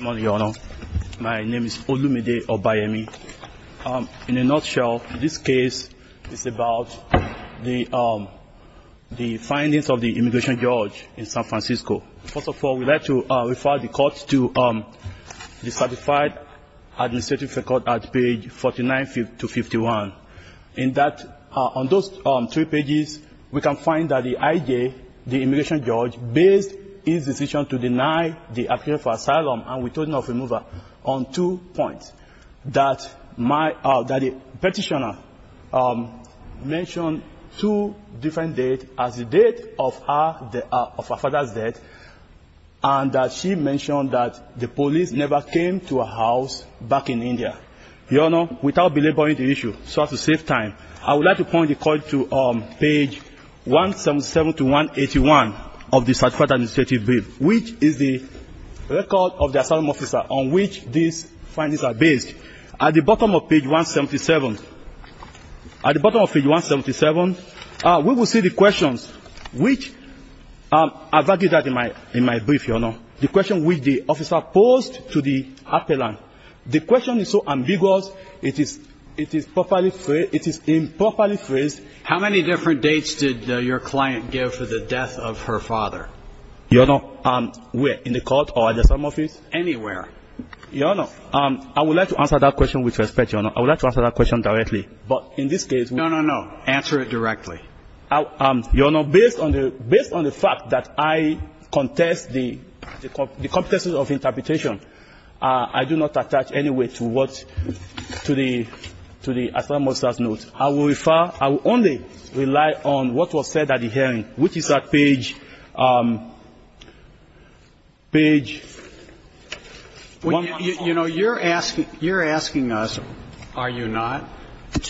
My name is Olumide Obayemi. In a nutshell, this case is about the findings of the immigration judge in San Francisco. First of all, we'd like to refer the court to the certified administrative record at page 49-51. In that, on those three pages, we can find that the I.J., the immigration judge, was in a position to deny the appeal for asylum and retorting of remover on two points. That the petitioner mentioned two different dates as the date of her father's death, and that she mentioned that the police never came to her house back in India. Your Honor, without belaboring the issue, so as to save time, I would like to point the court to page 177-181 of the certified administrative brief, which is the record of the asylum officer on which these findings are based. At the bottom of page 177, we will see the questions which, as I did that in my brief, Your Honor, the question which the officer posed to the How many different dates did your client give for the death of her father? Your Honor, where? In the court or at the asylum office? Anywhere. Your Honor, I would like to answer that question with respect, Your Honor. I would like to answer that question directly. But in this case, we No, no, no. Answer it directly. Your Honor, based on the fact that I contest the competences of interpretation, I do not attach any weight to what to the asylum officer's notes. I will refer I will only rely on what was said at the hearing, which is at page page 114. You know, you're asking us, are you not,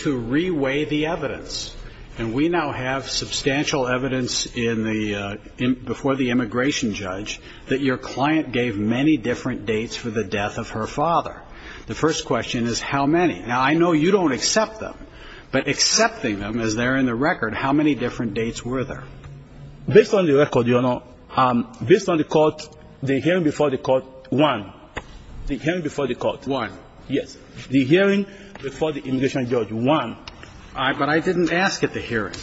to reweigh the evidence. And we now have substantial evidence in the, before the immigration judge, that your client gave many different dates for the death of her father. The first question is how many. Now, I know you don't accept them, but accepting them as they're in the record, how many different dates were there? Based on the record, Your Honor, based on the court, the hearing before the court, one. The hearing before the court, one. Yes. The hearing before the immigration judge, one. But I didn't ask at the hearing.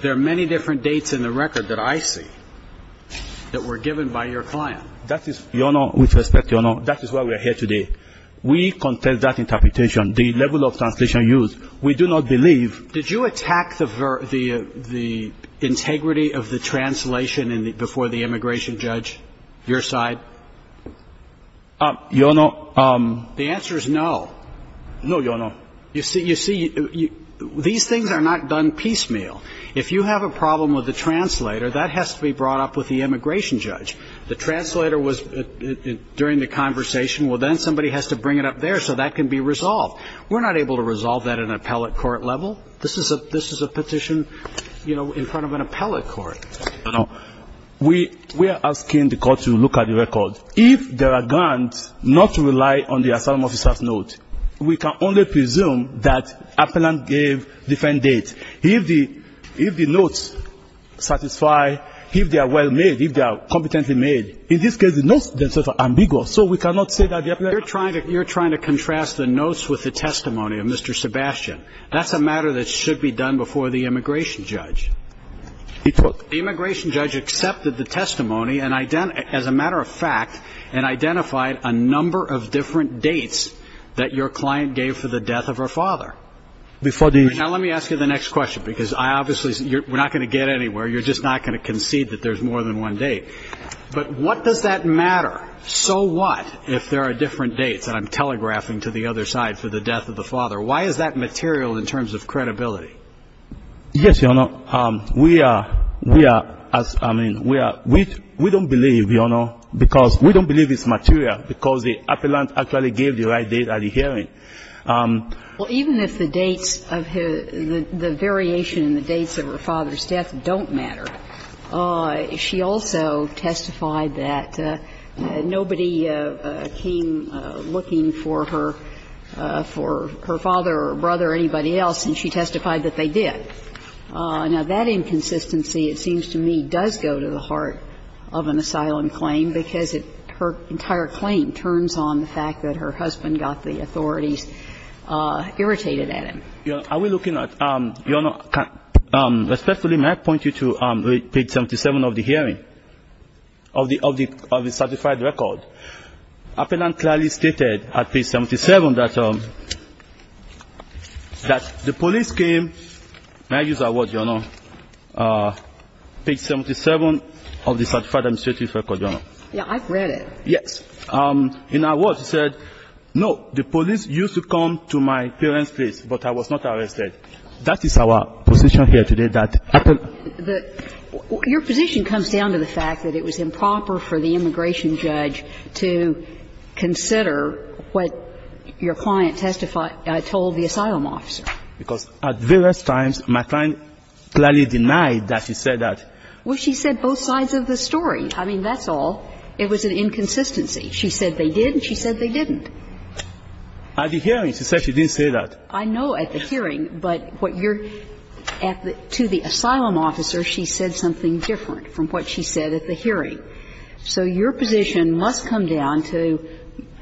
There are many different dates in the record that I see that were given by your client. That is, Your Honor, with respect, Your Honor, that is why we are here today. We contest that interpretation, the level of translation used. We do not believe Did you attack the integrity of the translation before the immigration judge, your side? Your Honor, The answer is no. No, Your Honor. You see, these things are not done piecemeal. If you have a problem with the translator, that has to be brought up with the immigration judge. The translator was, during the conversation, well, then somebody has to bring it up there so that can be resolved. We're not able to resolve that in an appellate court level. This is a petition, you know, in front of an appellate court. We are asking the court to look at the record. If there are grounds not to rely on the resume, that appellant gave different dates. If the notes satisfy, if they are well made, if they are competently made, in this case, the notes themselves are ambiguous, so we cannot say that the appellant You're trying to contrast the notes with the testimony of Mr. Sebastian. That's a matter that should be done before the immigration judge. The immigration judge accepted the testimony, as a matter of fact, and identified a number of different dates that your client gave for the death of her father. Before the Now let me ask you the next question, because I obviously, we're not going to get anywhere. You're just not going to concede that there's more than one date. But what does that matter? So what if there are different dates? And I'm telegraphing to the other side for the death of the father. Why is that material in terms of credibility? Yes, Your Honor. We are, we are, as I mean, we are, we don't believe, Your Honor, because we don't believe it's material, because the appellant actually gave the right date at the hearing. Well, even if the dates of her, the variation in the dates of her father's death don't matter, she also testified that nobody came looking for her, for her father or her brother or anybody else, and she testified that they did. Now, that inconsistency, it seems to me, does go to the heart of an asylum claim, because it, her entire claim turns on the fact that her husband got the authorities irritated at him. Are we looking at, Your Honor, respectfully, may I point you to page 77 of the hearing of the, of the, of the certified record? Appellant clearly stated at page 77 that, that the police came, may I use that word, Your Honor, page 77 of the certified record, Your Honor. Yeah, I've read it. Yes. In our words, it said, no, the police used to come to my parents' place, but I was not arrested. That is our position here today, that appellant. The, your position comes down to the fact that it was improper for the immigration judge to consider what your client testified, told the asylum officer. Because at various times, my client clearly denied that she said that. Well, she said both sides of the story. I mean, that's all. It was an inconsistency. She said they did, and she said they didn't. At the hearing, she said she didn't say that. I know at the hearing, but what your, at the, to the asylum officer, she said something different from what she said at the hearing. So your position must come down to,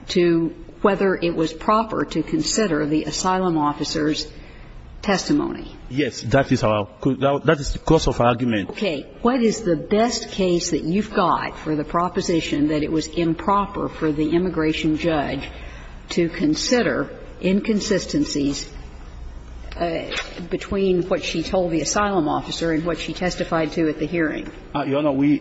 to whether it was proper to consider the asylum officer's testimony. Yes, that is our, that is the course of argument. Okay. What is the best case that you've got for the proposition that it was improper for the immigration judge to consider inconsistencies between what she told the asylum officer and what she testified to at the hearing? Your Honor, we,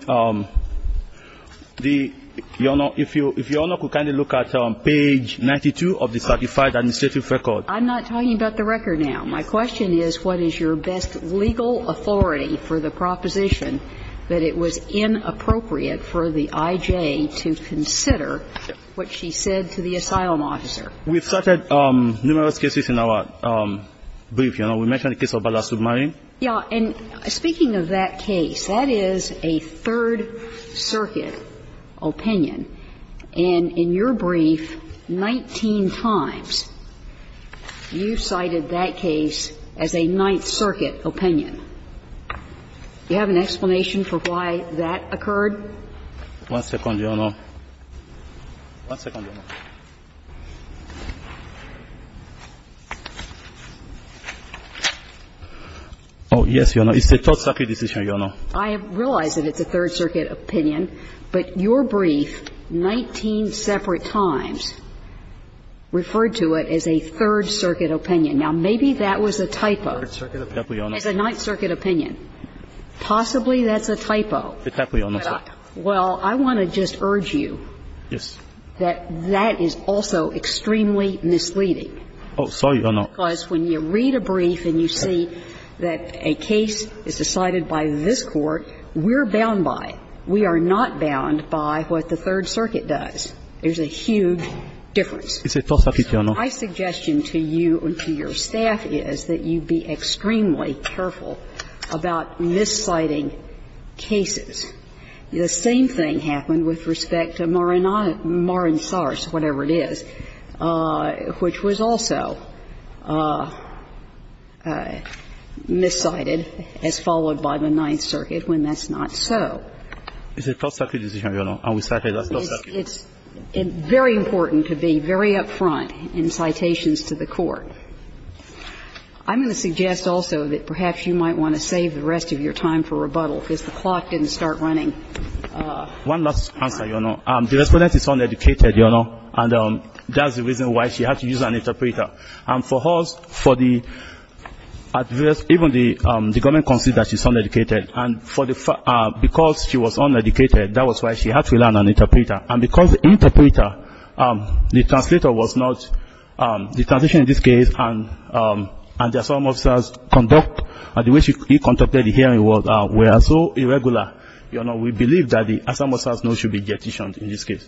the, your Honor, if you, if your Honor could kindly look at page 92 of the certified administrative record. I'm not talking about the record now. My question is, what is your best legal authority for the proposition that it was inappropriate for the I.J. to consider what she said to the asylum officer? We've cited numerous cases in our brief, Your Honor. We mentioned the case of Ballast Submarine. Yeah. And speaking of that case, that is a Third Circuit opinion. And in your brief, 19 times you cited that case as a Ninth Circuit opinion. Do you have an explanation for why that occurred? One second, Your Honor. One second, Your Honor. Oh, yes, Your Honor. It's a Third Circuit decision, Your Honor. I realize that it's a Third Circuit opinion, but your brief, 19 separate times, referred to it as a Third Circuit opinion. Now, maybe that was a typo. Third Circuit opinion. It's a Ninth Circuit opinion. Possibly that's a typo. It definitely is, Your Honor. Well, I want to just urge you that that is also extremely misleading. Oh, sorry, Your Honor. Because when you read a brief and you see that a case is decided by this Court, we're bound by it. We are not bound by what the Third Circuit does. There's a huge difference. It's a tough opinion, though. My suggestion to you and to your staff is that you be extremely careful about misciting cases. The same thing happened with respect to Maransars, whatever it is, which was also miscited as followed by the Ninth Circuit when that's not so. It's a Third Circuit decision, Your Honor. It's very important to be very up front in citations to the Court. I'm going to suggest also that perhaps you might want to save the rest of your time for rebuttal because the clock didn't start running. One last answer, Your Honor. The Respondent is uneducated, Your Honor, and that's the reason why she had to use an interpreter. And for her, for the adverse, even the government considers she's uneducated. And because she was uneducated, that was why she had to rely on an interpreter. And because the interpreter, the translator was not, the transition in this case and the we are so irregular, Your Honor, we believe that the Asamoah-Sars no should be jettisoned in this case.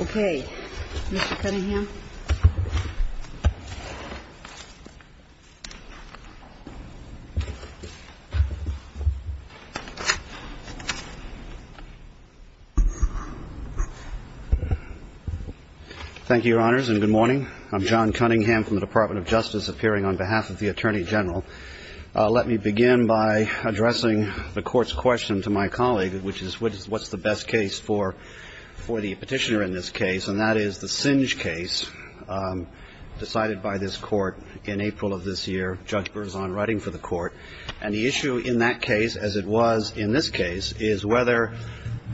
Okay. Mr. Cunningham. Thank you, Your Honors, and good morning. I'm John Cunningham from the Department of Justice appearing on behalf of the Attorney General. Let me begin by addressing the Court's question to my colleague, which is what's the best case for the Petitioner in this case, and that is the Singe case decided by this Court in April of this year, Judge Berzon writing for the Court. And the issue in that case, as it was in this case, is whether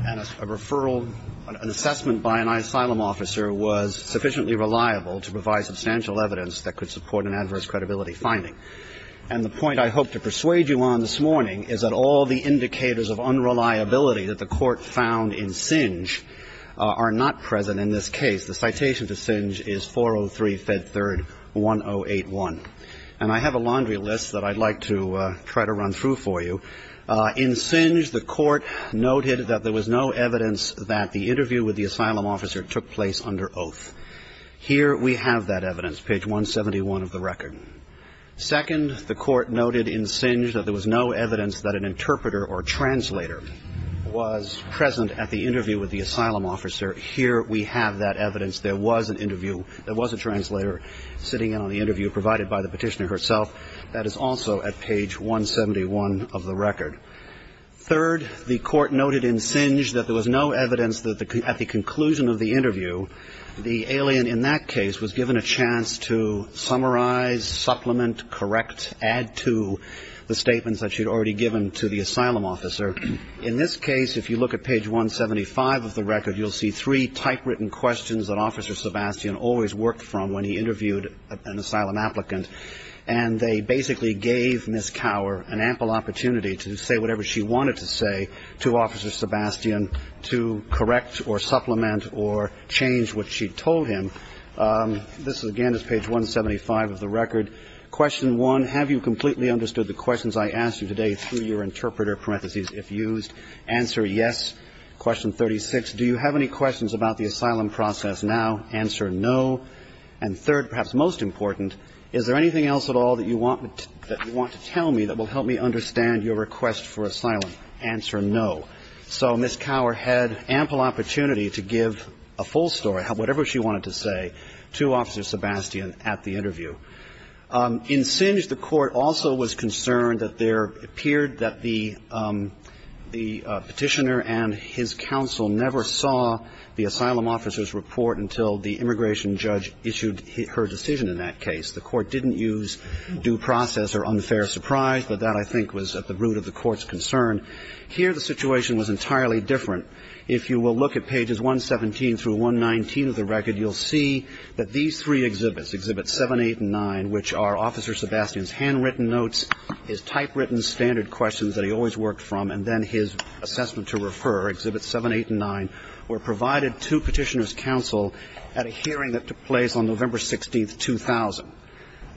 a referral, an assessment by an asylum officer was sufficiently reliable to provide substantial evidence that could support an adverse credibility finding. And the point I hope to persuade you on this morning is that all the indicators of unreliability that the Court found in Singe are not present in this case. The citation to Singe is 403, Fed 3rd, 1081. And I have a laundry list that I'd like to try to run through for you. In Singe, the Court noted that there was no evidence that the interview with the asylum officer took place under oath. Here we have that evidence, page 171 of the record. Second, the Court noted in Singe that there was no evidence that an interpreter or translator was present at the interview with the asylum officer. Here we have that evidence. There was an interview. There was a translator sitting in on the interview provided by the Petitioner herself. That is also at page 171 of the record. Third, the Court noted in Singe that there was no evidence that at the conclusion of the interview, the alien in that case was given a chance to summarize, supplement, correct, add to the statements that she had already given to the asylum officer. In this case, if you look at page 175 of the record, you'll see three typewritten questions that Officer Sebastian always worked from when he interviewed an asylum applicant. And they basically gave Ms. Cower an ample opportunity to say whatever she wanted to say to Officer Sebastian to correct or supplement or change what she told him. This, again, is page 175 of the record. Question one, have you completely understood the questions I asked you today through your interpreter, parentheses, if used? Answer, yes. Question 36, do you have any questions about the asylum process now? Answer, no. And third, perhaps most important, is there anything else at all that you want to tell me that will help me understand your request for asylum? Answer, no. So Ms. Cower had ample opportunity to give a full story, whatever she wanted to say, to Officer Sebastian at the interview. In Singe, the Court also was concerned that there appeared that the Petitioner and his counsel never saw the asylum officer's report until the immigration judge issued her decision in that case. The Court didn't use due process or unfair surprise, but that, I think, was at the root of the Court's concern. Here, the situation was entirely different. If you will look at pages 117 through 119 of the record, you'll see that these three exhibits, Exhibits 7, 8, and 9, which are Officer Sebastian's handwritten notes, his typewritten standard questions that he always worked from, and then his assessment to refer, Exhibits 7, 8, and 9, were provided to Petitioner's counsel at a hearing that took place on November 16, 2000.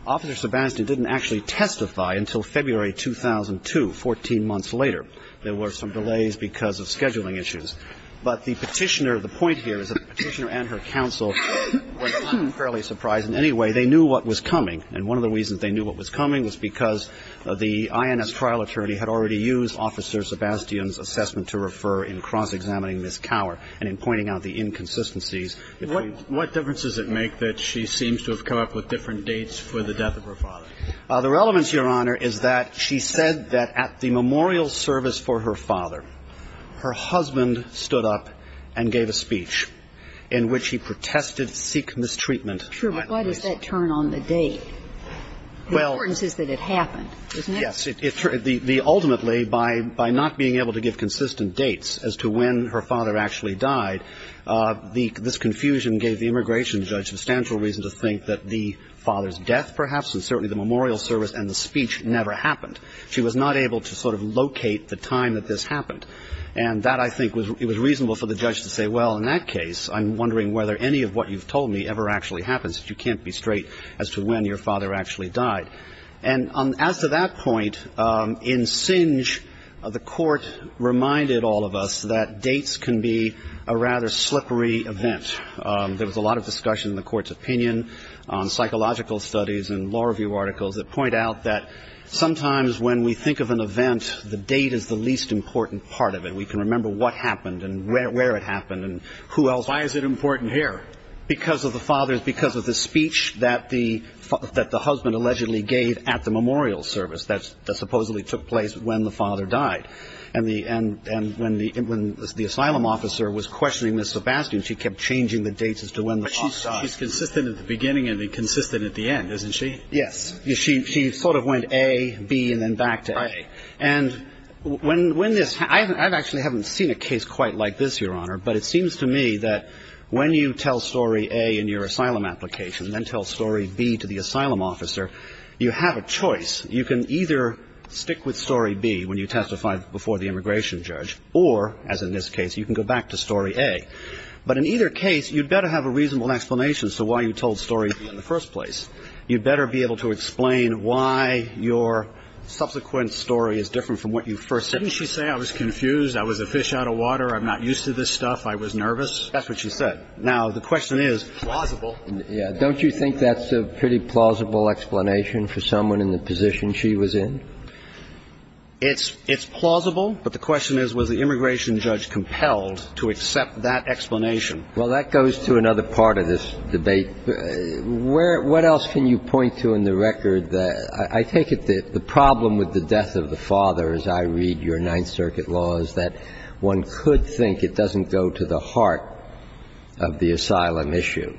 Officer Sebastian didn't actually testify until February 2002, 14 months later. There were some delays because of scheduling issues. But the Petitioner, the point here is that Petitioner and her counsel were unfairly surprised. In any way, they knew what was coming. And one of the reasons they knew what was coming was because the INS trial attorney had already used Officer Sebastian's assessment to refer in cross-examining Ms. Cower and in pointing out the inconsistencies. What difference does it make that she seems to have come up with different dates for the death of her father? The relevance, Your Honor, is that she said that at the memorial service for her father, her husband stood up and gave a speech in which he protested Sikh mistreatment. True, but why does that turn on the date? The importance is that it happened, isn't it? Yes. Ultimately, by not being able to give consistent dates as to when her father actually died, this confusion gave the immigration judge substantial reason to think that the father's death, perhaps, and certainly the memorial service and the speech never happened. She was not able to sort of locate the time that this happened. And that, I think, it was reasonable for the judge to say, well, in that case, I'm wondering whether any of what you've told me ever actually happens. You can't be straight as to when your father actually died. And as to that point, in Singe, the court reminded all of us that dates can be a rather slippery event. There was a lot of discussion in the court's opinion on psychological studies and law review articles that point out that sometimes when we think of an event, the date is the least important part of it. We can remember what happened and where it happened and who else. Why is it important here? Because of the father's – because of the speech that the husband allegedly gave at the memorial service that supposedly took place when the father died. And when the asylum officer was questioning Ms. Sebastian, she kept changing the dates as to when the father died. But she's consistent at the beginning and consistent at the end, isn't she? Yes. She sort of went A, B, and then back to A. Right. And when this – I actually haven't seen a case quite like this, Your Honor, but it asylum application and then tell story B to the asylum officer, you have a choice. You can either stick with story B when you testify before the immigration judge or, as in this case, you can go back to story A. But in either case, you'd better have a reasonable explanation as to why you told story B in the first place. You'd better be able to explain why your subsequent story is different from what you first said. Didn't she say I was confused, I was a fish out of water, I'm not used to this stuff, I was nervous? That's what she said. Now, the question is – Plausible. Yeah. Don't you think that's a pretty plausible explanation for someone in the position she was in? It's plausible, but the question is, was the immigration judge compelled to accept that explanation? Well, that goes to another part of this debate. What else can you point to in the record that – I take it the problem with the death of the father, as I read your Ninth Circuit law, is that one could think it doesn't go to the heart of the asylum issue.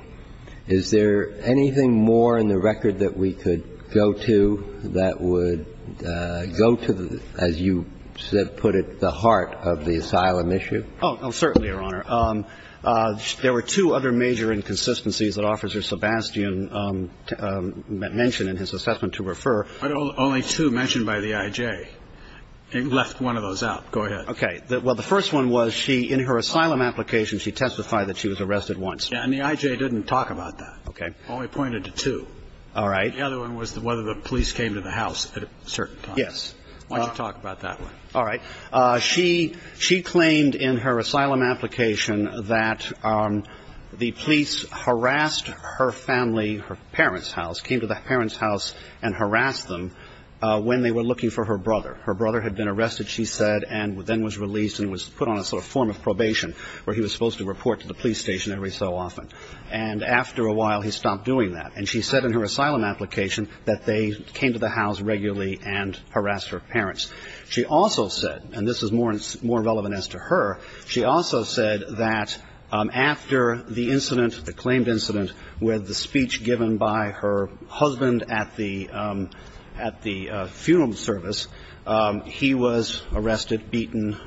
Is there anything more in the record that we could go to that would go to, as you put it, the heart of the asylum issue? Oh, certainly, Your Honor. There were two other major inconsistencies that Officer Sebastian mentioned in his assessment to refer. But only two mentioned by the I.J. It left one of those out. Go ahead. Okay. Well, the first one was she, in her asylum application, she testified that she was arrested once. Yeah. And the I.J. didn't talk about that. Okay. Only pointed to two. All right. The other one was whether the police came to the house at certain times. Yes. Why don't you talk about that one? All right. She claimed in her asylum application that the police harassed her family, her parents' house, came to the parents' house and harassed them when they were looking for her brother. Her brother had been arrested, she said, and then was released and was put on a sort of form of probation where he was supposed to report to the police station every so often. And after a while, he stopped doing that. And she said in her asylum application that they came to the house regularly and harassed her parents. She also said, and this is more relevant as to her, she also said that after the incident, the claimed incident, where the speech given by her husband at the funeral service, he was arrested, beaten,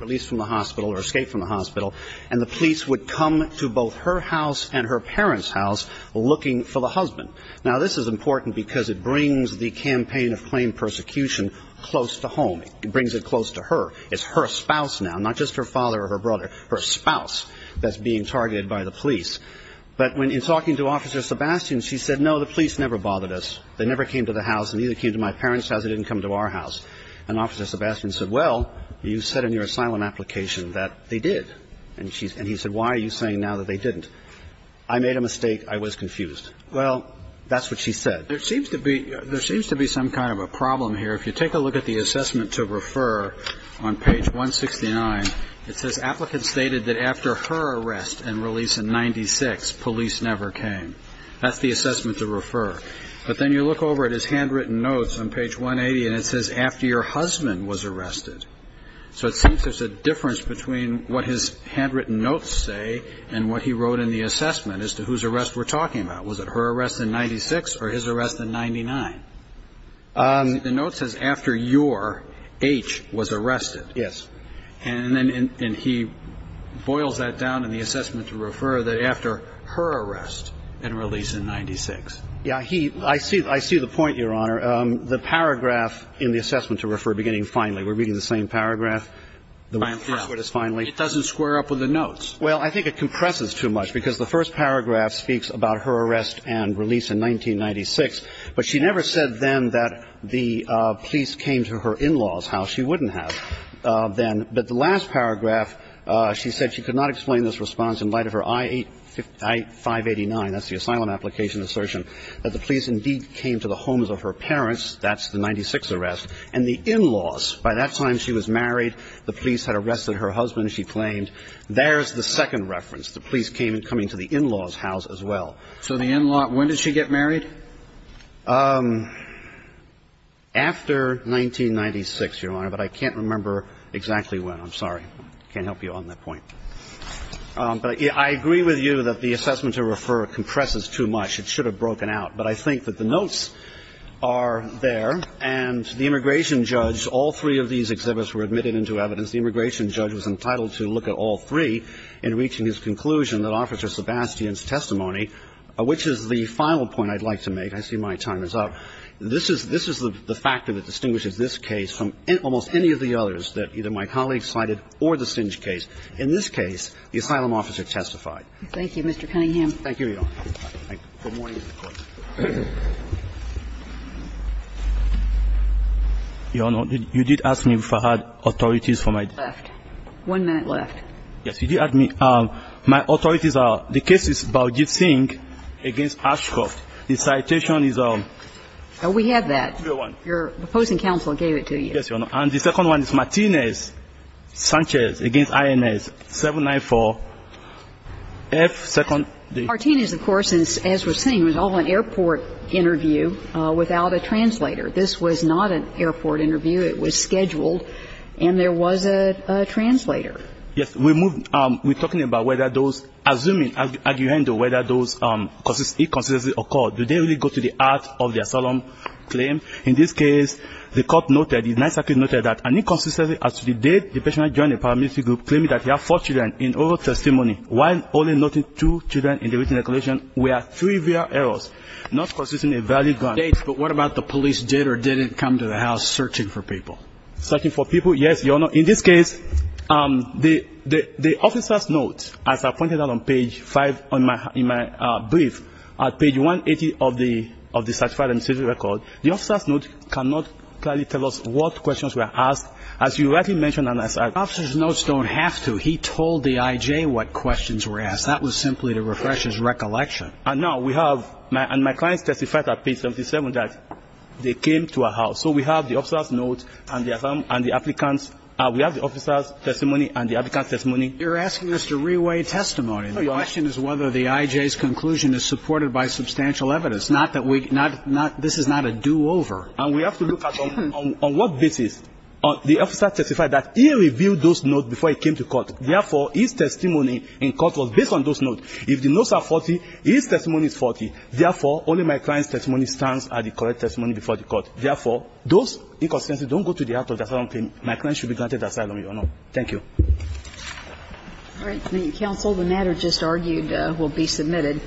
released from the hospital or escaped from the hospital, and the police would come to both her house and her parents' house looking for the husband. Now, this is important because it brings the campaign of claimed persecution close to home. It brings it close to her. It's her spouse now, not just her father or her brother, her spouse that's being targeted by the police. But when in talking to Officer Sebastian, she said, no, the police never bothered us. They never came to the house and neither came to my parents' house. They didn't come to our house. And Officer Sebastian said, well, you said in your asylum application that they did. And he said, why are you saying now that they didn't? I made a mistake. I was confused. Well, that's what she said. There seems to be some kind of a problem here. If you take a look at the assessment to refer on page 169, it says applicants stated that after her arrest and release in 1996, police never came. That's the assessment to refer. But then you look over at his handwritten notes on page 180, and it says after your husband was arrested. So it seems there's a difference between what his handwritten notes say and what he wrote in the assessment as to whose arrest we're talking about. Was it her arrest in 1996 or his arrest in 1999? The note says after your H was arrested. Yes. And he boils that down in the assessment to refer that after her arrest and release in 1996. Yeah. I see the point, Your Honor. The paragraph in the assessment to refer beginning finally, we're reading the same paragraph. It doesn't square up with the notes. Well, I think it compresses too much because the first paragraph speaks about her arrest and release in 1996. But she never said then that the police came to her in-laws' house. She wouldn't have then. But the last paragraph, she said she could not explain this response in light of her I-589, that's the asylum application assertion, that the police indeed came to the homes of her parents. That's the 1996 arrest. And the in-laws, by that time she was married, the police had arrested her husband, she claimed. There's the second reference, the police came and coming to the in-laws' house as well. So the in-law, when did she get married? After 1996, Your Honor. But I can't remember exactly when. I'm sorry. I can't help you on that point. But I agree with you that the assessment to refer compresses too much. It should have broken out. But I think that the notes are there. And the immigration judge, all three of these exhibits were admitted into evidence. The immigration judge was entitled to look at all three in reaching his conclusion that Officer Sebastian's testimony, which is the final point I'd like to make. I see my time is up. This is the factor that distinguishes this case from almost any of the others that either my colleague cited or the Singe case. In this case, the asylum officer testified. Thank you, Mr. Cunningham. Thank you, Your Honor. Good morning. Your Honor, you did ask me if I had authorities for my defense. One minute left. Yes. Did you ask me, my authorities are, the case is Baojie Singe against Ashcroft. The citation is on. We have that. Your opposing counsel gave it to you. Yes, Your Honor. And the second one is Martinez-Sanchez against INS 794-F, second. Martinez, of course, as we're seeing, was on an airport interview without a translator. This was not an airport interview. It was scheduled. And there was a translator. Yes. We're talking about whether those, assuming, whether those inconsistencies occur. Did they really go to the heart of their asylum claim? In this case, the court noted, the Ninth Circuit noted, that an inconsistency as to the date the patient joined a paramilitary group claiming that he had four children in oral testimony, while only noting two children in the written declaration, were trivial errors, not consisting of valid evidence. But what about the police did or didn't come to the house searching for people? Searching for people? Yes, Your Honor. In this case, the officer's notes, as I pointed out on page 5 in my brief, on page 180 of the certified emcee's record, the officer's note cannot clearly tell us what questions were asked. As you rightly mentioned, and as I said. The officer's notes don't have to. He told the I.J. what questions were asked. That was simply to refresh his recollection. No, we have, and my client testified on page 77 that they came to a house. So we have the officer's note and the applicant's, we have the officer's testimony and the applicant's testimony. You're asking us to re-weigh testimony. The question is whether the I.J.'s conclusion is supported by substantial evidence, not that we, not, this is not a do-over. And we have to look at on what basis. The officer testified that he reviewed those notes before he came to court. Therefore, his testimony in court was based on those notes. If the notes are 40, his testimony is 40. Therefore, only my client's testimony stands as the correct testimony before the court. Therefore, those inconsistencies don't go to the heart of the asylum claim. My client should be granted asylum, Your Honor. Thank you. All right. Thank you, counsel. The matter just argued will be submitted.